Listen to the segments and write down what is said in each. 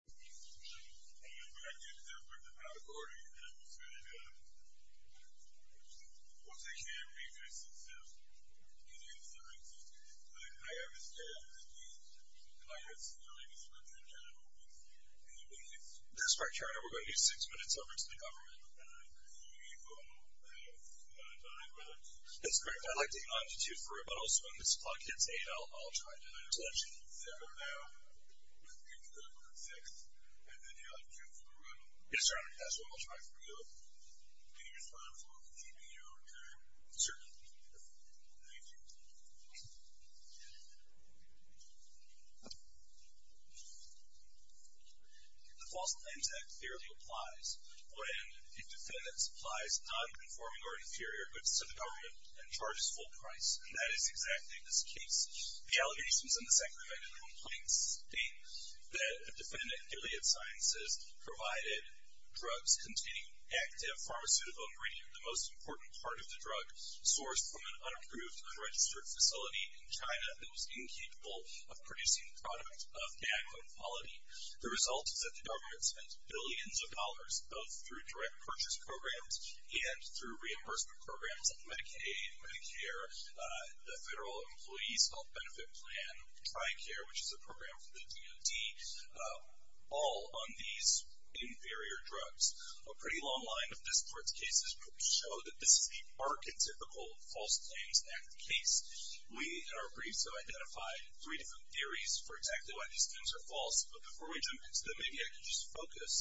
I'm going to do a quick recording of what's going to happen. Once I can, I'm going to do some stuff at Gilead Sciences. I understand that the pirates, you know, I guess, are going to try to open the gates. That's right, Karen. We're going to do six minutes over to the government. We will have nine minutes. That's correct. I like the longitude for it, but also when this clock hits eight, I'll try to let you know. We're going to do seven now, and then you'll have two for the run. Yes, sir. That's what I'll try for you. Can you respond for me, keeping you on time? Certainly. Thank you. The Fossil Land Act clearly applies when a defendant supplies nonconforming or inferior goods to the government and charges full price. And that is exactly this case. The allegations in the second amendment complaints state that the defendant, Gilead Sciences, provided drugs containing active pharmaceutical ingredient, the most important part of the drug, sourced from an unapproved, unregistered facility in China that was incapable of producing product of adequate quality. The result is that the government spent billions of dollars, both through direct purchase programs and through reimbursement programs like Medicaid, Medicare, the Federal Employees Health Benefit Plan, TRICARE, which is a program for the DOD, all on these inferior drugs. A pretty long line of this Court's cases show that this is the archetypical False Claims Act case. We, in our briefs, have identified three different theories for exactly why these things are false. But before we jump into them, maybe I can just focus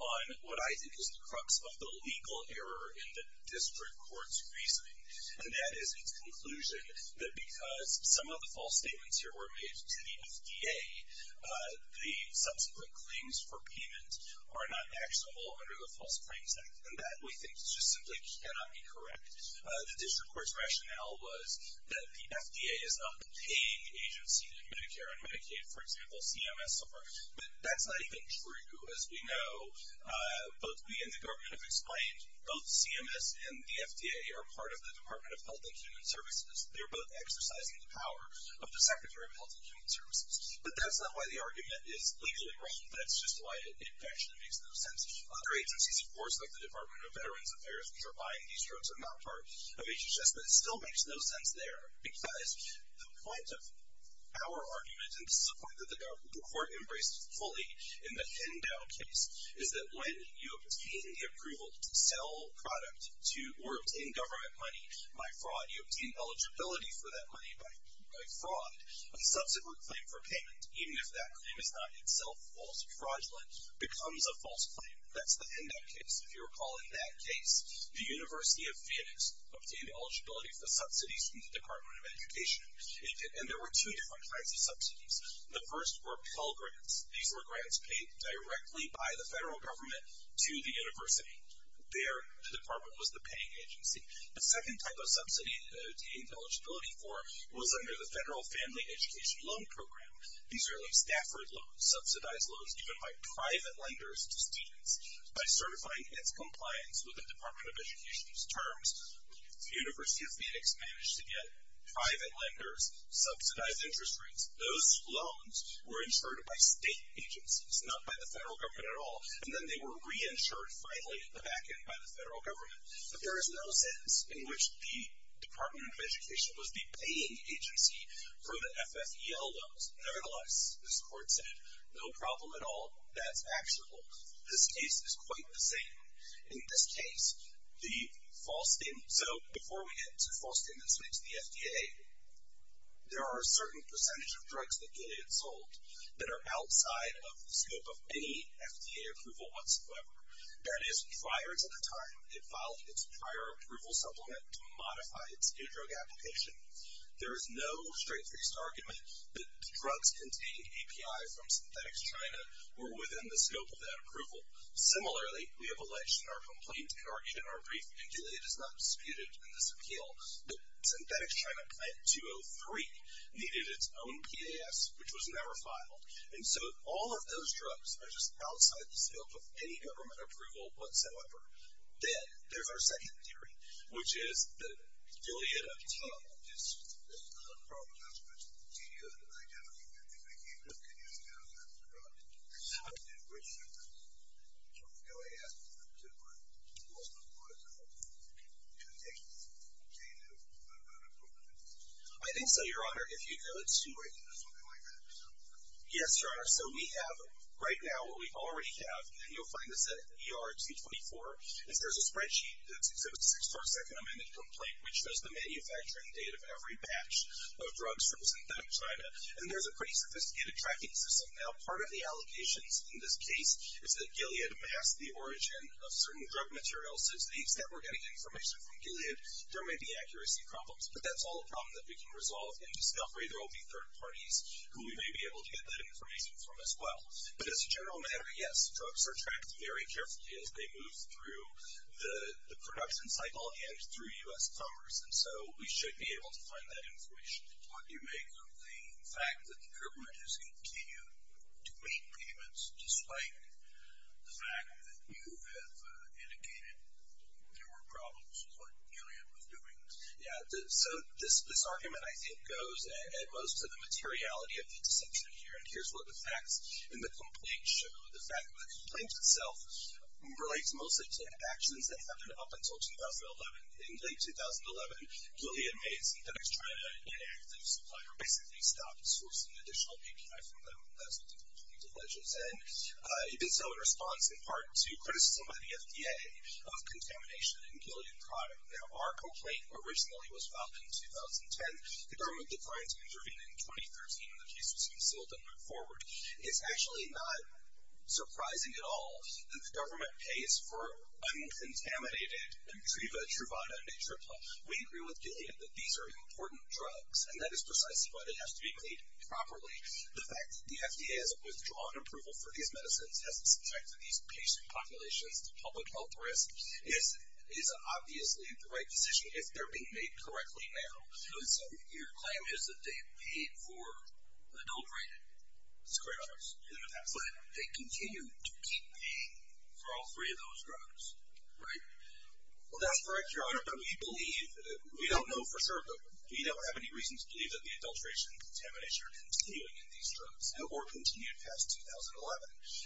on what I think is the crux of the legal error in the district court's reasoning. And that is its conclusion that because some of the false statements here were made to the FDA, the subsequent claims for payment are not actionable under the False Claims Act. And that, we think, just simply cannot be correct. The district court's rationale was that the FDA is not the paying agency in Medicare and Medicaid. For example, CMS are. But that's not even true. As we know, both we and the government have explained, both CMS and the FDA are part of the Department of Health and Human Services. They're both exercising the power of the Secretary of Health and Human Services. But that's not why the argument is legally wrong. That's just why it actually makes no sense. Other agencies, of course, like the Department of Veterans Affairs, which are buying these drugs, are not part of HHS, but it still makes no sense there. Because the point of our argument, and this is a point that the court embraced fully in the Hendo case, is that when you obtain the approval to sell product or obtain government money by fraud, you obtain eligibility for that money by fraud. A subsequent claim for payment, even if that claim is not itself false or fraudulent, becomes a false claim. That's the Hendo case. If you recall in that case, the University of Phoenix obtained eligibility for subsidies from the Department of Education. And there were two different kinds of subsidies. The first were Pell Grants. These were grants paid directly by the federal government to the university. Their department was the paying agency. The second type of subsidy it obtained eligibility for was under the Federal Family Education Loan Program. These are the Stafford Loans, subsidized loans given by private lenders to students. By certifying its compliance with the Department of Education's terms, the University of Phoenix managed to get private lenders subsidized interest rates. Those loans were insured by state agencies, not by the federal government at all. And then they were reinsured finally at the back end by the federal government. But there is no sense in which the Department of Education was the paying agency for the FFEL loans. Nevertheless, as the court said, no problem at all. That's actionable. This case is quite the same. In this case, the false statement. So before we get to the false statement that speaks to the FDA, there are a certain percentage of drugs that get sold that are outside of the scope of any FDA approval whatsoever. That is prior to the time it filed its prior approval supplement to modify its new drug application. There is no straight-faced argument that drugs containing API from Synthetics China were within the scope of that approval. Similarly, we have alleged in our complaint and our brief, and Gilead has not disputed in this appeal, that Synthetics China plant 203 needed its own PAS, which was never filed. And so all of those drugs are just outside the scope of any government approval whatsoever. Then there's our second theory, which is that Gilead obtained just the unproven aspects of the DNA identity. I think they came to the conclusion that it was a drug. Now, in which sense? So Gilead has to do with what's known as a contagious chain of unproven evidence? I think so, Your Honor. If you go to- Wait, is there something like that? Yes, Your Honor. So we have right now what we already have, and you'll find this at ERG24, is there's a spreadsheet that says it's a six-part second amended complaint, which shows the manufacturing date of every batch of drugs from Synthetics China. And there's a pretty sophisticated tracking system. Now, part of the allegations in this case is that Gilead masked the origin of certain drug materials, so to the extent we're getting information from Gilead, there may be accuracy problems. But that's all a problem that we can resolve in discovery. There will be third parties who we may be able to get that information from as well. But as a general matter, yes, drugs are tracked very carefully as they move through the production cycle and through U.S. commerce. And so we should be able to find that information. What do you make of the fact that the government has continued to make payments, despite the fact that you have indicated there were problems with what Gilead was doing? Yeah, so this argument, I think, goes at most to the materiality of the deception here. And here's where the facts in the complaint show. The fact that the complaint itself relates mostly to actions that happened up until 2011. In late 2011, Gilead made Synthetics China an active supplier, basically stopped sourcing additional API from them. That's what the complaint alleges. And even so, it responds in part to criticism by the FDA of contamination in Gilead product. Now, our complaint originally was filed in 2010. The government declined to intervene in 2013, and the case was concealed and moved forward. It's actually not surprising at all that the government pays for uncontaminated Intriva, Truvada, and Natripla. We agree with Gilead that these are important drugs, and that is precisely why they have to be paid properly. The fact that the FDA has withdrawn approval for these medicines and has subjected these patient populations to public health risks is obviously the right decision if they're being made correctly now. So your claim is that they paid for adulterated. That's correct, Your Honor. But they continue to keep paying for all three of those drugs, right? Well, that's correct, Your Honor, but we believe, we don't know for sure, but we don't have any reason to believe that the adulteration and contamination are continuing in these drugs or continued past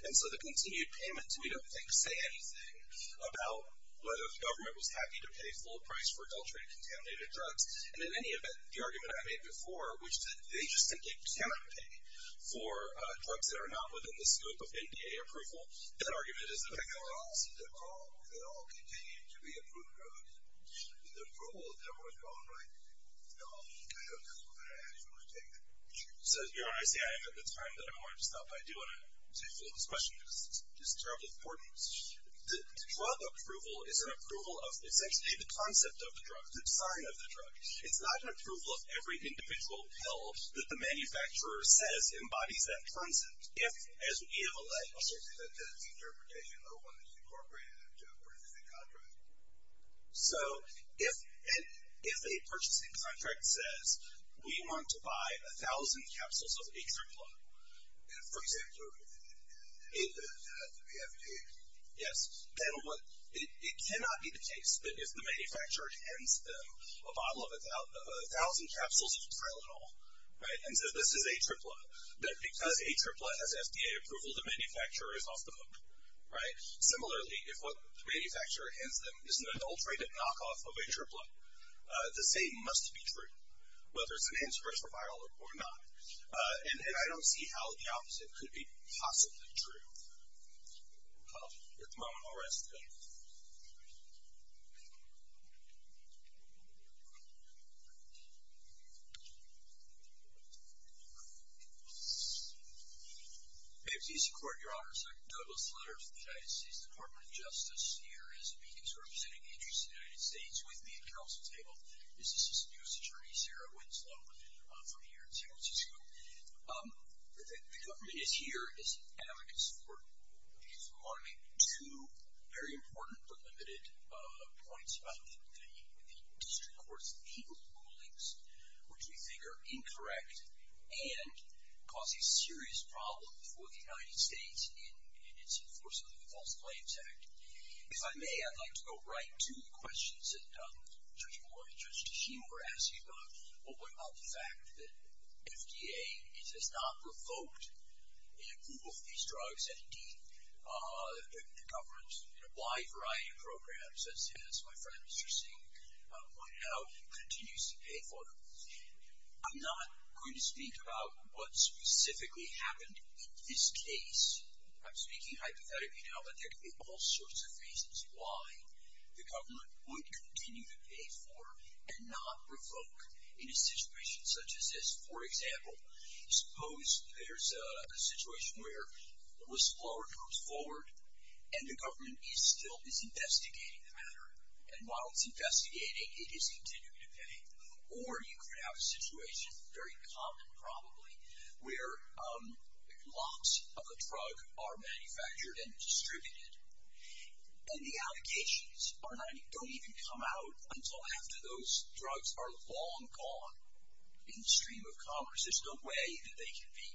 2011. And so the continued payments, we don't think, say anything about whether the government was happy to pay full price for adulterated, contaminated drugs. And in any event, the argument I made before, which is that they just simply cannot pay for drugs that are not within the scope of NDA approval, that argument is that they all continue to be approved drugs. The rule of them was going like, no, I don't think we're going to actually take them. So, Your Honor, I see I have the time that I wanted to stop, but I do want to say a few words on this question because it's terribly important. Drug approval is an approval of essentially the concept of the drug, the design of the drug. It's not an approval of every individual pill that the manufacturer says embodies that concept. If, as we have alleged, I'll certainly take that as an interpretation, although one that's incorporated into a purchasing contract. So if a purchasing contract says we want to buy 1,000 capsules of Atripla, for example, it cannot be the case that if the manufacturer hands them a bottle of 1,000 capsules of Tylenol, and says this is Atripla, that because Atripla has FDA approval, the manufacturer is off the hook. Similarly, if what the manufacturer hands them is an adulterated knockoff of Atripla, the same must be true, whether it's an antiviral or not. And I don't see how the opposite could be possibly true. At the moment, I'll rest. Thank you. AMCC Court, Your Honor. Second Douglas Lutter of the United States Department of Justice. Here is a meeting to represent the interests of the United States with me at counsel's table. This is Assistant U.S. Attorney Sarah Winslow from here at San Francisco. The government is here as an advocate in support. I just want to make two very important but limited points about the district court's penal rulings, which we think are incorrect and cause a serious problem for the United States in its enforcement of the False Claims Act. If I may, I'd like to go right to the questions that Judge Moore and Judge Teshim were asking about. Well, what about the fact that FDA has not revoked an approval for these drugs, and, indeed, the government in a wide variety of programs, as my friend Mr. Singh pointed out, continues to pay for them. I'm not going to speak about what specifically happened in this case. I'm speaking hypothetically now that there could be all sorts of reasons why the government would continue to pay for and not revoke in a situation such as this. For example, suppose there's a situation where the whistleblower comes forward and the government is still investigating the matter. And while it's investigating, it is continuing to pay. Or you could have a situation, very common probably, where lots of the drug are manufactured and distributed, and the allocations don't even come out until after those drugs are long gone in the stream of commerce. There's no way that they can be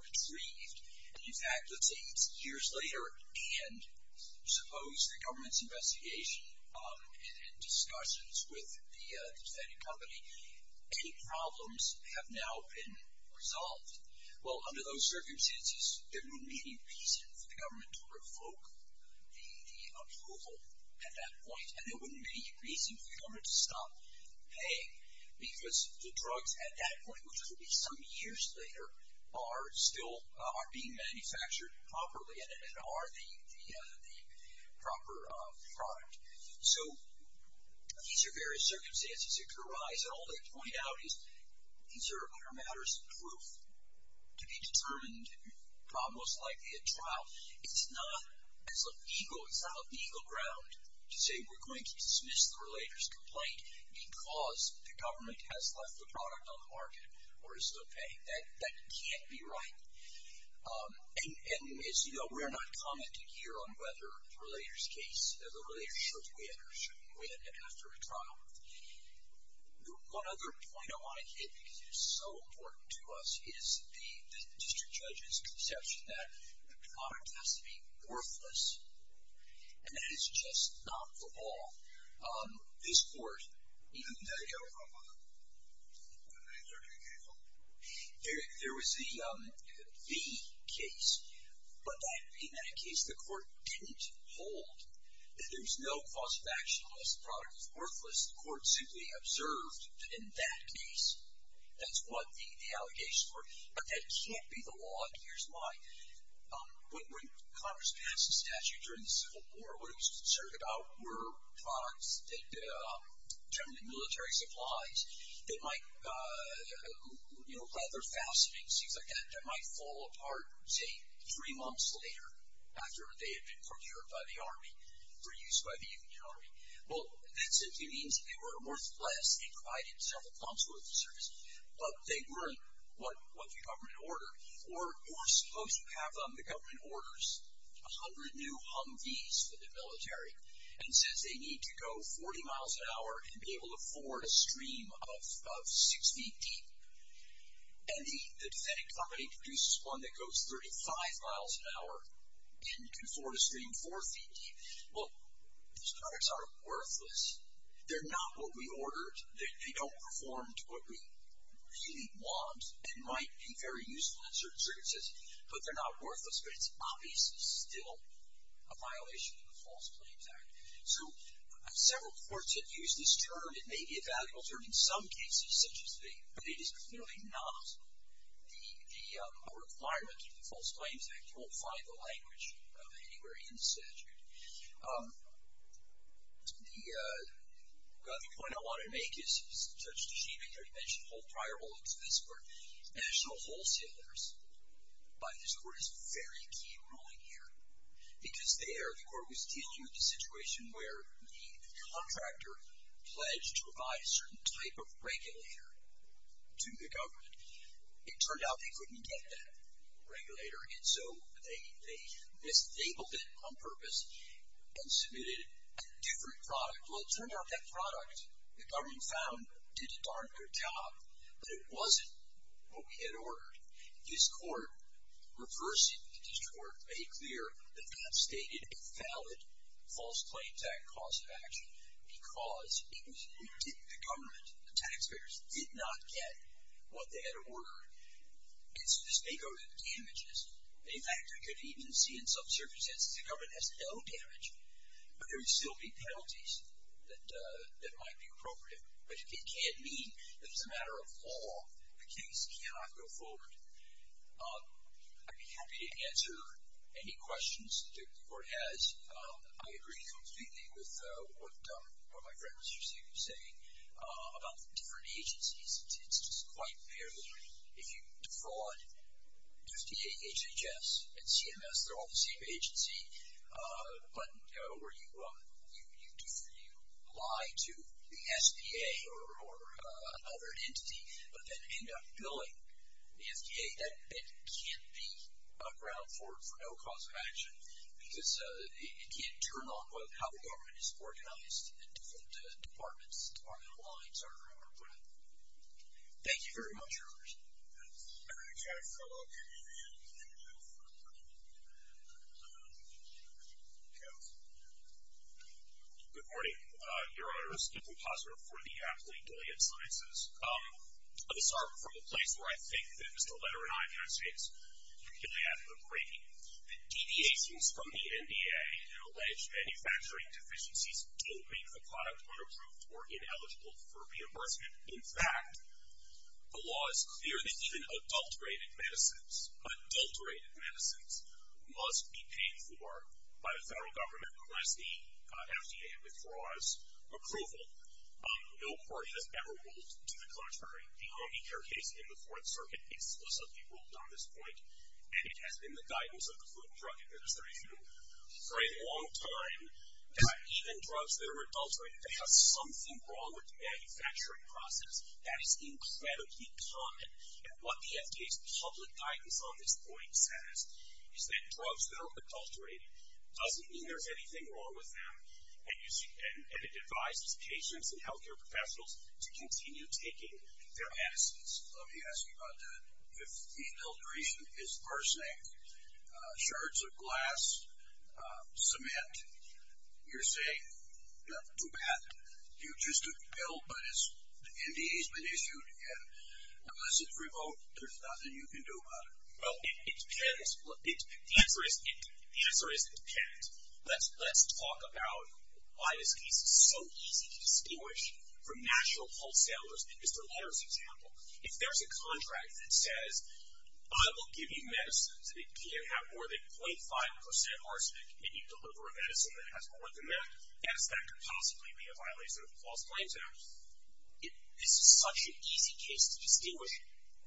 retrieved. And, in fact, let's say it's years later, and suppose the government's investigation and discussions with the defendant company, any problems have now been resolved. Well, under those circumstances, there wouldn't be any reason for the government to revoke the approval at that point. And there wouldn't be any reason for the government to stop paying, because the drugs at that point, which would be some years later, are still being manufactured properly and are the proper product. So these are various circumstances that could arise. All they point out is these are matters of proof to be determined, most likely at trial. It's not a legal ground to say we're going to dismiss the relator's complaint because the government has left the product on the market or is still paying. That can't be right. And we're not commenting here on whether the relator's case, One other point I want to hit, because it is so important to us, is the district judge's conception that the product has to be worthless. And that is just not the law. This court, even the case of the V case, but in that case the court didn't hold that there was no cause of action unless the product was worthless. The court simply observed that in that case, that's what the allegations were. But that can't be the law, and here's why. When Congress passed the statute during the Civil War, what it was concerned about were products that determined military supplies that might, you know, leather fastenings, things like that, that might fall apart, say, three months later, after they had been procured by the Army, reused by the Union Army. Well, that simply means they weren't worthless. They provided several consequences. But they weren't what the government ordered, or supposed to have them. The government orders 100 new Humvees for the military and says they need to go 40 miles an hour and be able to forward a stream of six feet deep. And the defendant company produces one that goes 35 miles an hour and can forward a stream four feet deep. Well, those products are worthless. They're not what we ordered. They don't perform to what we really want and might be very useful in certain circumstances. But they're not worthless, but it's obviously still a violation of the False Claims Act. So several courts have used this term. It may be a valuable term in some cases, such as these, but it is clearly not a requirement of the False Claims Act. You won't find the language of it anywhere in the statute. The other point I want to make is such achievement. I mentioned prior holdings of this court. National wholesalers, by this court, is very keen ruling here. Because there, the court was dealing with a situation where the contractor pledged to provide a certain type of regulator to the government. It turned out they couldn't get that regulator. And so they disabled it on purpose and submitted a different product. Well, it turned out that product, the government found, did a darn good job. But it wasn't what we had ordered. This court reversed it. This court made clear that that stated a valid False Claims Act cause of action because the government, the taxpayers, did not get what they had ordered. And so this may go to the damages. In fact, we could even see in some circumstances the government has no damage. But there would still be penalties that might be appropriate. But it can't mean that as a matter of law, the case cannot go forward. I'd be happy to answer any questions that the court has. I agree completely with what my friends are saying about different agencies. It's just quite clear that if you defraud the FDA, HHS, and CMS, they're all the same agency, but you lie to the SBA or another entity but then end up billing the FDA, that can't be a ground for no cause of action because it can't turn on how the government is organized and different departments, department lines are put in. Thank you very much, Your Honors. I'm going to try to follow up. Good morning, Your Honors. Stephen Plosser for the Aptly Gilead Sciences. I'm going to start from the place where I think that Mr. Lederer and I can say this, particularly after the briefing, that deviations from the NDA and alleged manufacturing deficiencies don't make the product unapproved or ineligible for reimbursement. In fact, the law is clear that even adulterated medicines, adulterated medicines, must be paid for by the federal government unless the FDA withdraws approval. No court has ever ruled to the contrary. The Obie Care case in the Fourth Circuit explicitly ruled on this point, and it has been the guidance of the Food and Drug Administration for a long time, that even drugs that are adulterated have something wrong with the manufacturing process. That is incredibly common, and what the FDA's public guidance on this point says is that drugs that are adulterated doesn't mean there's anything wrong with them, and it advises patients and healthcare professionals to continue taking their medicines. Let me ask you about that. If the adulteration is arsenic, shards of glass, cement, you're saying, not too bad, you're just a pill, but the NDA's been issued, and unless it's remote, there's nothing you can do about it. Well, it depends. The answer is it depends. Let's talk about why this case is so easy to distinguish from natural wholesalers. Mr. Lederer's example. If there's a contract that says I will give you medicines that can have more than 0.5% arsenic and you deliver a medicine that has more than that, yes, that could possibly be a violation of the False Claims Act. This is such an easy case to distinguish.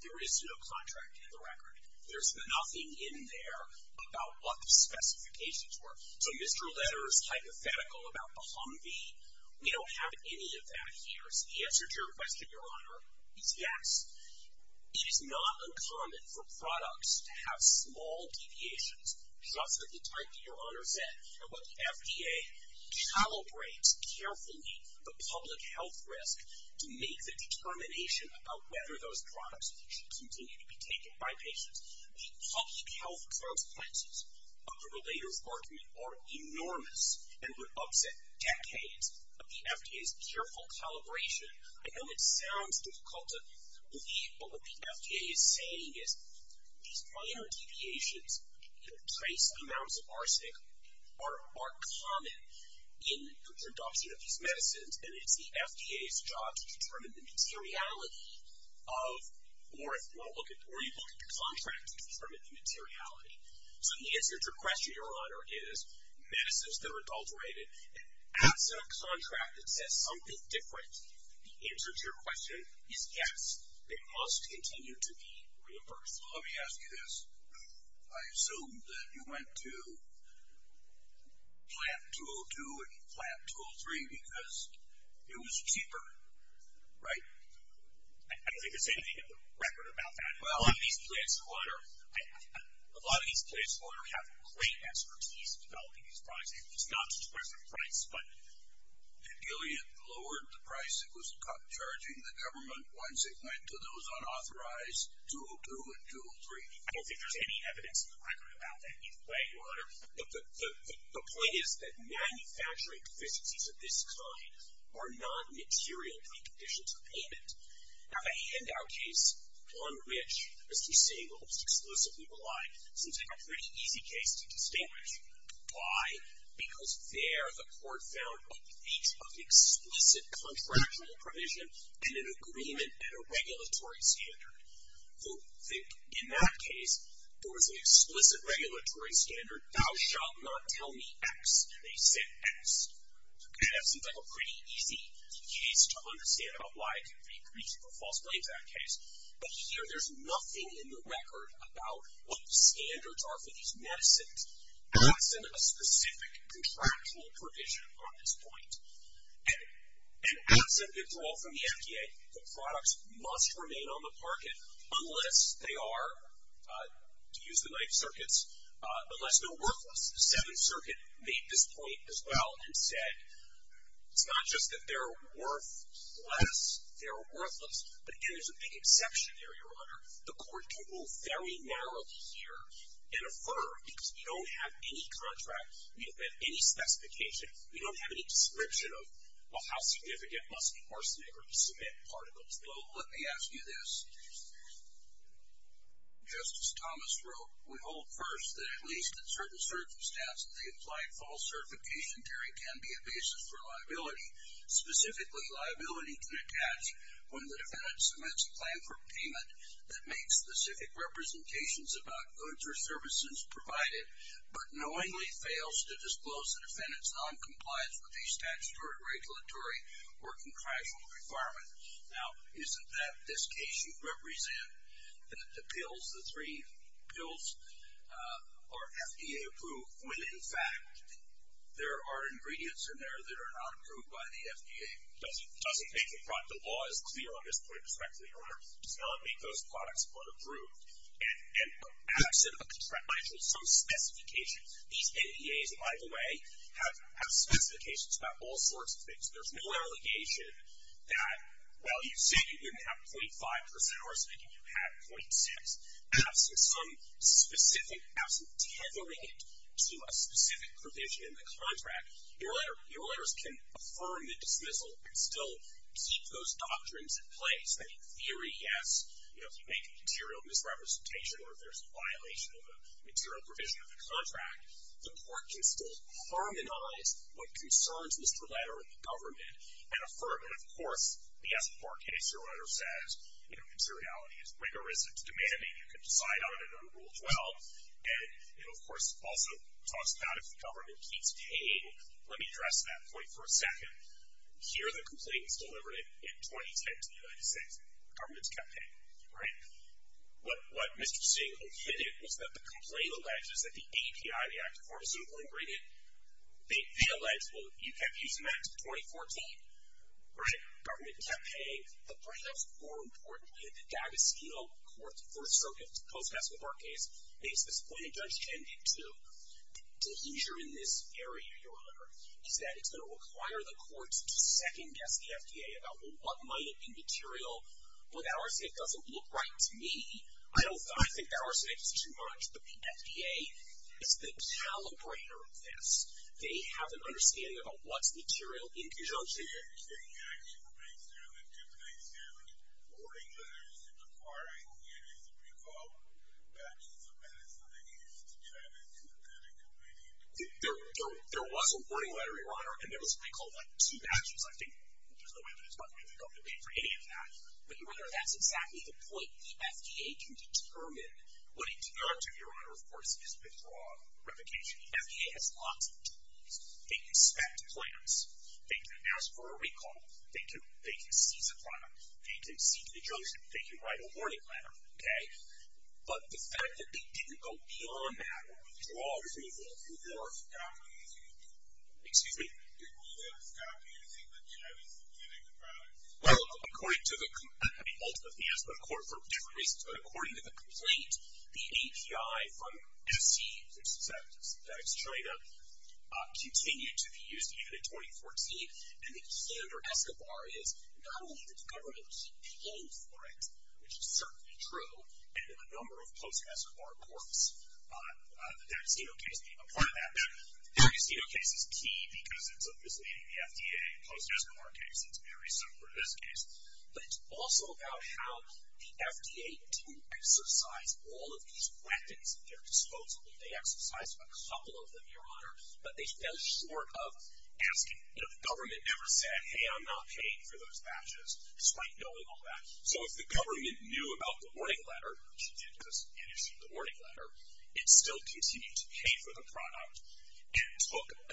There is no contract in the record. There's nothing in there about what the specifications were. So Mr. Lederer's hypothetical about the Humvee, we don't have any of that here. The answer to your question, Your Honor, is yes. It is not uncommon for products to have small deviations, just at the type that Your Honor said, and what the FDA calibrates carefully the public health risk to make the determination about whether those products should continue to be taken by patients. The public health consequences of the Lederer's argument are enormous and would upset decades of the FDA's careful calibration. I know it sounds difficult to believe, but what the FDA is saying is these minor deviations in the trace amounts of arsenic are common in the production of these medicines, and it's the FDA's job to determine the materiality of, or you look at the contract to determine the materiality. So the answer to your question, Your Honor, is medicines that are adulterated. As a contract that says something different, the answer to your question is yes, they must continue to be reimbursed. Let me ask you this. I assume that you went to plant 202 and plant 203 because it was cheaper, right? I don't think there's anything in the record about that. A lot of these plants, Your Honor, have great expertise in developing these products. It's not just a question of price. Did Gilead lower the price it was charging the government once it went to those unauthorized 202 and 203? I don't think there's any evidence in the record about that either way, Your Honor. The point is that manufacturing deficiencies of this kind are non-material in the conditions of payment. I have a handout case, one which Mr. Singleton explicitly relied, since I have a pretty easy case to distinguish. Why? Because there the court found a breach of explicit contractual provision and an agreement at a regulatory standard. In that case, there was an explicit regulatory standard. Thou shalt not tell me X. They said X. I have something like a pretty easy case to understand about why a breach of a false claims act case. But here there's nothing in the record about what the standards are for these medicines absent a specific contractual provision on this point. And absent withdrawal from the FDA, the products must remain on the market unless they are, to use the knife circuits, unless they're worthless. The Seventh Circuit made this point as well and said, it's not just that they're worthless, they're worthless. But again, there's a big exception there, Your Honor. The court can move very narrowly here and affirm, because we don't have any contract, we don't have any specification, we don't have any description of how significant must be arsenic or cement particles. Well, let me ask you this. Justice Thomas wrote, we hold first that at least in certain circumstances, the implied false certification theory can be a basis for liability. Specifically, liability can attach when the defendant submits a plan for payment that makes specific representations about goods or services provided, but knowingly fails to disclose the defendant's noncompliance with the statutory, regulatory, or contractual requirement. Now, isn't that, in this case, you represent the pills, the three pills, are FDA approved when, in fact, there are ingredients in there that are not approved by the FDA? Doesn't make the law as clear on this point, Your Honor, does not make those products unapproved. And absent of contractual, some specifications, these NDAs, by the way, have specifications about all sorts of things. There's no allegation that, well, you say you didn't have .5 percent arsenic and you had .6. Absent some specific, absent tethering it to a specific provision in the contract, your lawyers can affirm the dismissal and still keep those doctrines in place, that in theory, yes, you know, if you make a material misrepresentation or if there's a violation of a material provision of the contract, the court can still harmonize what concerns Mr. Lederer in the government and affirm that, of course, he has a court case. Your letter says, you know, conseriality is rigorous. It's demanding you can decide on it under Rule 12. And it, of course, also talks about if the government keeps paying. Let me address that point for a second. Here are the complaints delivered in 2010 to the United States in the government's campaign, right? What Mr. Singh admitted was that the complaint alleges that the API, the active pharmaceutical ingredient, they allege, well, you kept using that until 2014, right? Government kept paying. But perhaps more importantly, the D'Agostino Court's first stroke in its post-Meskel bar case makes this point, and Judge Chen did too, that the leisure in this area, Your Honor, is that it's going to require the courts to second-guess the FDA about, well, might it be material, well, that arsenic doesn't look right to me. I think that arsenic is too much. But the FDA is the calibrator of this. They have an understanding about what's material in conjunction. Did you take action to make sterling, to make sterling, hoarding letters, and requiring it as, if you will, batches of medicine that you used to try to do that immediately? There was a hoarding letter, Your Honor, and there was what they called, like, two batches, I think. There's no way that it's not going to help debate for any of that. But Your Honor, that's exactly the point. The FDA can determine what it cannot do, Your Honor, of course, is withdraw replication. The FDA has lots of tools. They can inspect plans. They can ask for a recall. They can seize a product. They can seize a junction. They can write a hoarding letter, okay? But the fact that they didn't go beyond that or withdraw approval Excuse me? Well, according to the ultimate theist, but for different reasons, but according to the complaint, the API from SE, which is that Synthetics Trader, continued to be used even in 2014. And the key under ESCOBAR is not only did the government pay for it, which is certainly true, and a number of post-ESCOBAR courts, the D'Agostino case, a part of that. The D'Agostino case is key because it's obviously in the FDA. In the post-ESCOBAR case, it's very similar to this case. But it's also about how the FDA didn't exercise all of these weapons at their disposal. They exercised a couple of them, Your Honor, but they fell short of asking. You know, the government never said, hey, I'm not paying for those batches, despite knowing all that. So if the government knew about the hoarding letter, which it did because it issued the hoarding letter, it still continued to pay for the product and took a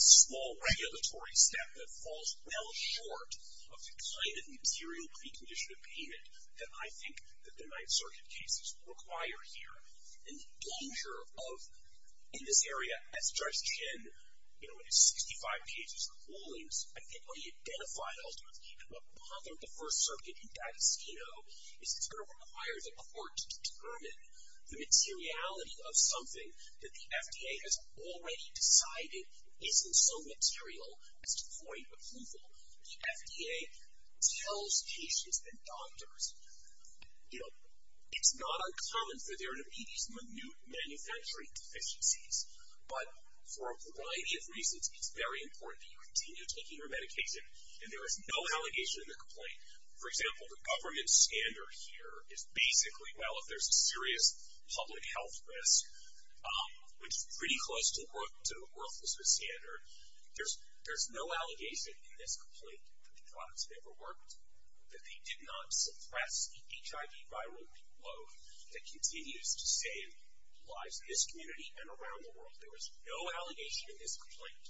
small regulatory step that falls well short of the kind of material precondition of payment that I think that the Ninth Circuit cases require here. And the danger of, in this area, as Judge Chin, you know, in his 65 cases of holdings, I think what he identified ultimately, and what bothered the First Circuit in D'Agostino, is it's going to require the court to determine the materiality of something that the FDA has already decided isn't so material as to point of approval. The FDA tells patients and doctors, you know, it's not uncommon for there to be these minute manufacturing deficiencies. But for a variety of reasons, it's very important that you continue taking your medication and there is no allegation in the complaint. For example, the government standard here is basically, well, if there's a serious public health risk, which is pretty close to the worthlessness standard, there's no allegation in this complaint that the products never worked, that they did not suppress the HIV viral load that continues to save lives in this community and around the world. There is no allegation in this complaint.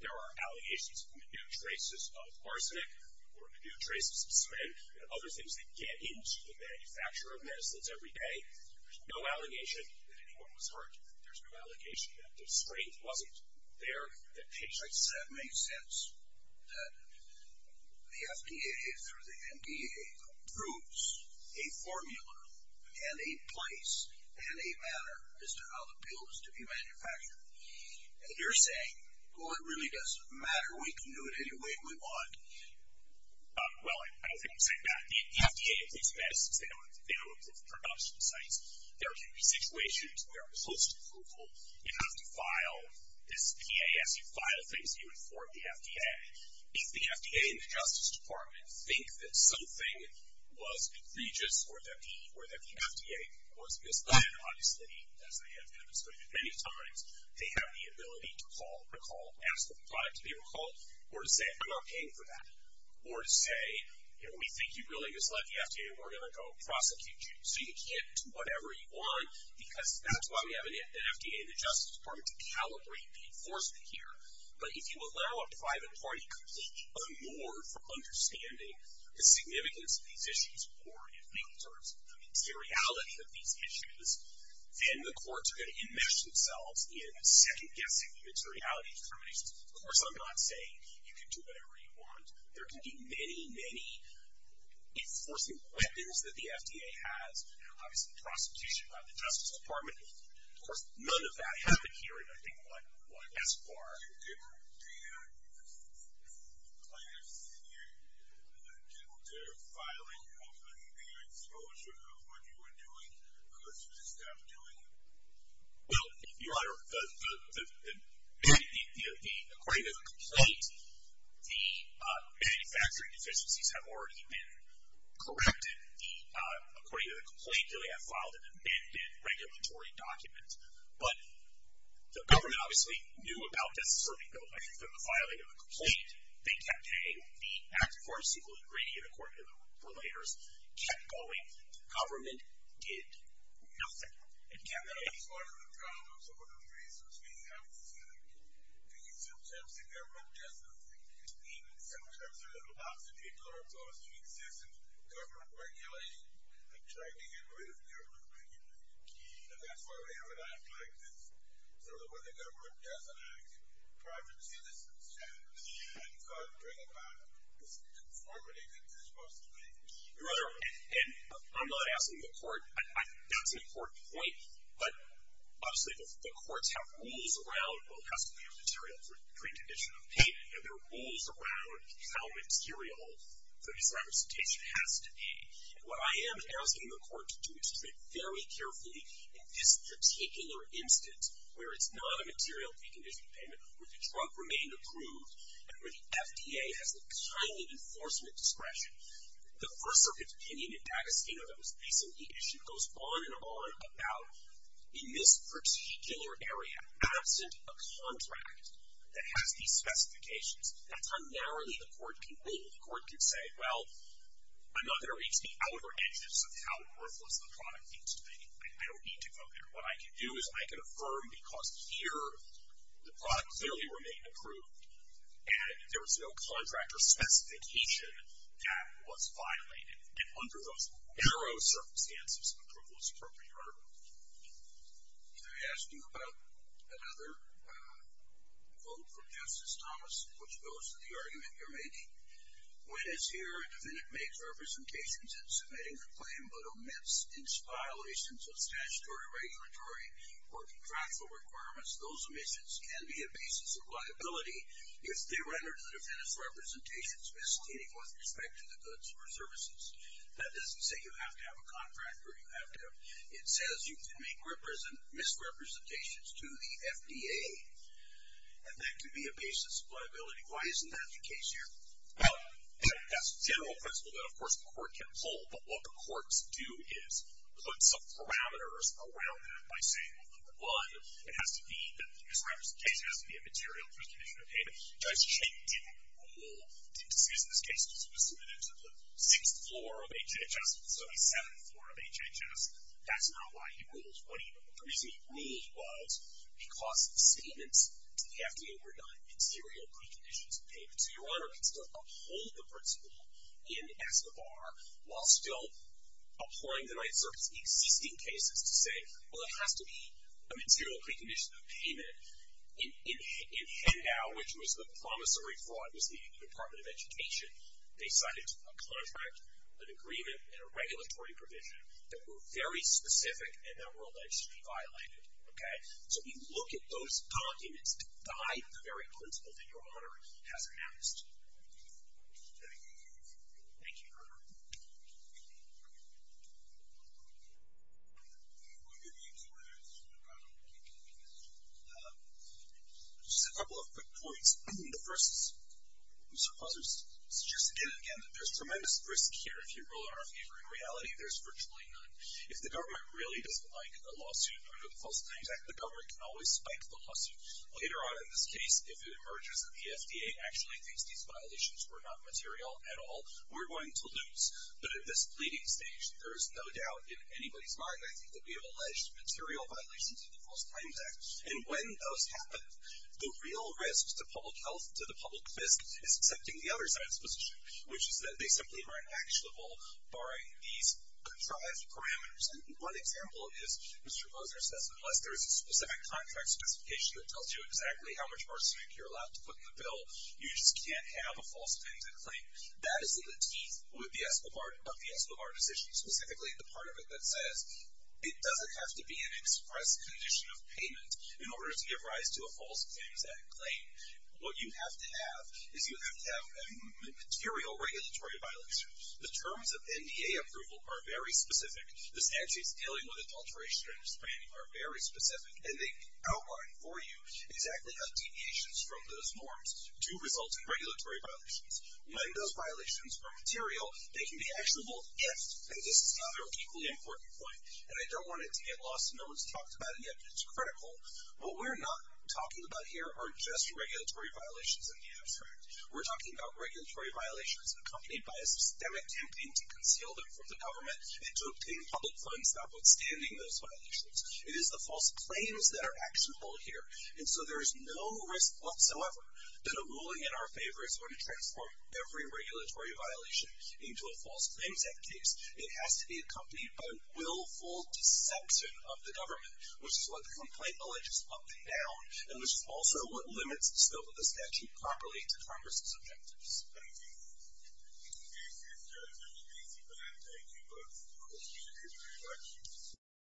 There are allegations in the new traces of arsenic or the new traces of cement and other things that get into the manufacture of medicines every day. There's no allegation that anyone was hurt. There's no allegation that the strength wasn't there that patients... That makes sense. That the FDA through the NDA approves a formula and a place and a manner as to how the pill is to be manufactured. And you're saying, well, it really doesn't matter. We can do it any way we want. Well, I don't think I'm saying that. The FDA approves medicines. They don't approve production sites. There can be situations where, post-approval, you have to file this PA. As you file things, you inform the FDA. If the FDA and the Justice Department think that something was egregious or that the FDA was misled, they have the ability to call, recall, or to say, I'm not paying for that. Or to say, we think you really misled the FDA. We're going to go prosecute you. So you can't do whatever you want because that's why we have an FDA and the Justice Department to calibrate the enforcement here. But if you allow a private party completely unmoored from understanding the significance of these issues or in legal terms, the materiality of these issues, then the courts are going to enmesh themselves in second guessing the materiality of the terminations. Of course, I'm not saying you can do whatever you want. There can be many, many enforcing weapons that the FDA has. Obviously, prosecution by the Justice Department. Of course, none of that happened here in, I think, one S. Bar. Do you plan to file any exposure of what you were doing because you just stopped doing it? Well, Your Honor, according to the complaint, the manufacturing deficiencies have already been corrected. According to the complaint, really, I filed an amended regulatory document. But the government obviously knew about disasserting bills. I think that in the filing of the complaint, they kept paying. The act for a single ingredient, according to the relators, kept going. Government did nothing. That's part of the problem. Some of the reasons we haven't seen it, because sometimes the government doesn't think it's needed. Sometimes there's lots of people who are supposed to exist in government regulation and try to get rid of government regulation. And that's why we haven't acted like this. So when the government doesn't act, the projects in this instance can't bring about the conformity that this must bring. Your Honor, and I'm not asking the court. That's an important point. But obviously the courts have rules around what has to be a material precondition of payment. And there are rules around how material the disrepresentation has to be. And what I am asking the court to do is to think very carefully, in this particular instance, where it's not a material precondition of payment, where the drug remained approved, and where the FDA has the kind enforcement discretion. The First Circuit's opinion in D'Agostino that was recently issued goes on and on about, in this particular area, absent a contract that has these specifications, that's how narrowly the court can rule. The court can say, well, I'm not going to reach the outer edges of how worthless the product needs to be. I don't need to go there. What I can do is I can affirm, because here the product clearly remained approved, and there was no contract or specification that was violated. And under those narrow circumstances, approval is appropriate, right? I asked you about another quote from Justice Thomas, which goes to the argument you're making. When, as here, a defendant makes representations in submitting the claim but omits its violations of statutory, regulatory, or contractual requirements, those omissions can be a basis of liability if they render to the court with respect to the goods or services. That doesn't say you have to have a contract, or you have to have, it says you can make misrepresentations to the FDA, and that can be a basis of liability. Why isn't that the case here? Well, that's the general principle that, of course, the court can hold. But what the courts do is put some parameters around that by saying, well, number one, it has to be that the misrepresentation has to be a material precondition of payment. Judge Chaik didn't rule, didn't discuss this case, because it was submitted to the sixth floor of HHS, the 77th floor of HHS. That's not why he ruled. The reason he ruled was because the statements to the FDA were not material preconditions of payment. So your Honor can still uphold the principle in SBAR, while still employing the Ninth Circuit's existing cases to say, well, it has to be a material precondition of payment. In FedNow, which was the promissory floor, it was the Department of Education, they cited a contract, an agreement, and a regulatory provision that were very specific and that were allegedly violated. Okay? So you look at those documents to guide the very principle that your Honor has announced. Thank you. Thank you, Your Honor. Just a couple of quick points. The first, Mr. Fuzzard, suggests again and again that there's tremendous risk here if you rule in our favor. In reality, there's virtually none. If the government really doesn't like a lawsuit under the False Claims Act, the government can always spike the lawsuit. Later on in this case, if it emerges that the FDA actually thinks these violations were not material at all, we're going to lose. But at this pleading stage, there is no doubt in anybody's mind, I think, that we have alleged material violations of the False Claims Act. And when those happen, the real risk to public health, to the public fisc, is accepting the other side's position, which is that they simply are inactual, barring these contrived parameters. And one example is, Mr. Fuzzard says, unless there is a specific contract specification that tells you exactly how much margin you're allowed to put in the bill, you just can't have a false claim. That is in the teeth of the Escobar decision, specifically the part of it that says, it doesn't have to be an express condition of payment in order to give rise to a False Claims Act claim. What you have to have is you have to have material regulatory violations. The terms of NDA approval are very specific. The statutes dealing with adulteration and spamming are very specific, and they outline for you exactly how deviations from those norms do result in regulatory violations. When those violations are material, they can be actionable if, and this is the other equally important point, and I don't want it to get lost in no one's talked about it yet, but it's critical. What we're not talking about here are just regulatory violations in the abstract. We're talking about regulatory violations accompanied by a systemic campaign to conceal them from the government and to obtain public funds notwithstanding those violations. It is the false claims that are actionable here. And so there is no risk whatsoever that a ruling in our favor is going to transform every regulatory violation into a False Claims Act case. It has to be accompanied by a willful deception of the government, which is what the complaint bill has just upped down, and this is also what limits the scope of the statute properly to Congress's objectives. Thank you. Thank you, Judge. Thank you for that. Thank you both. Appreciate it very much.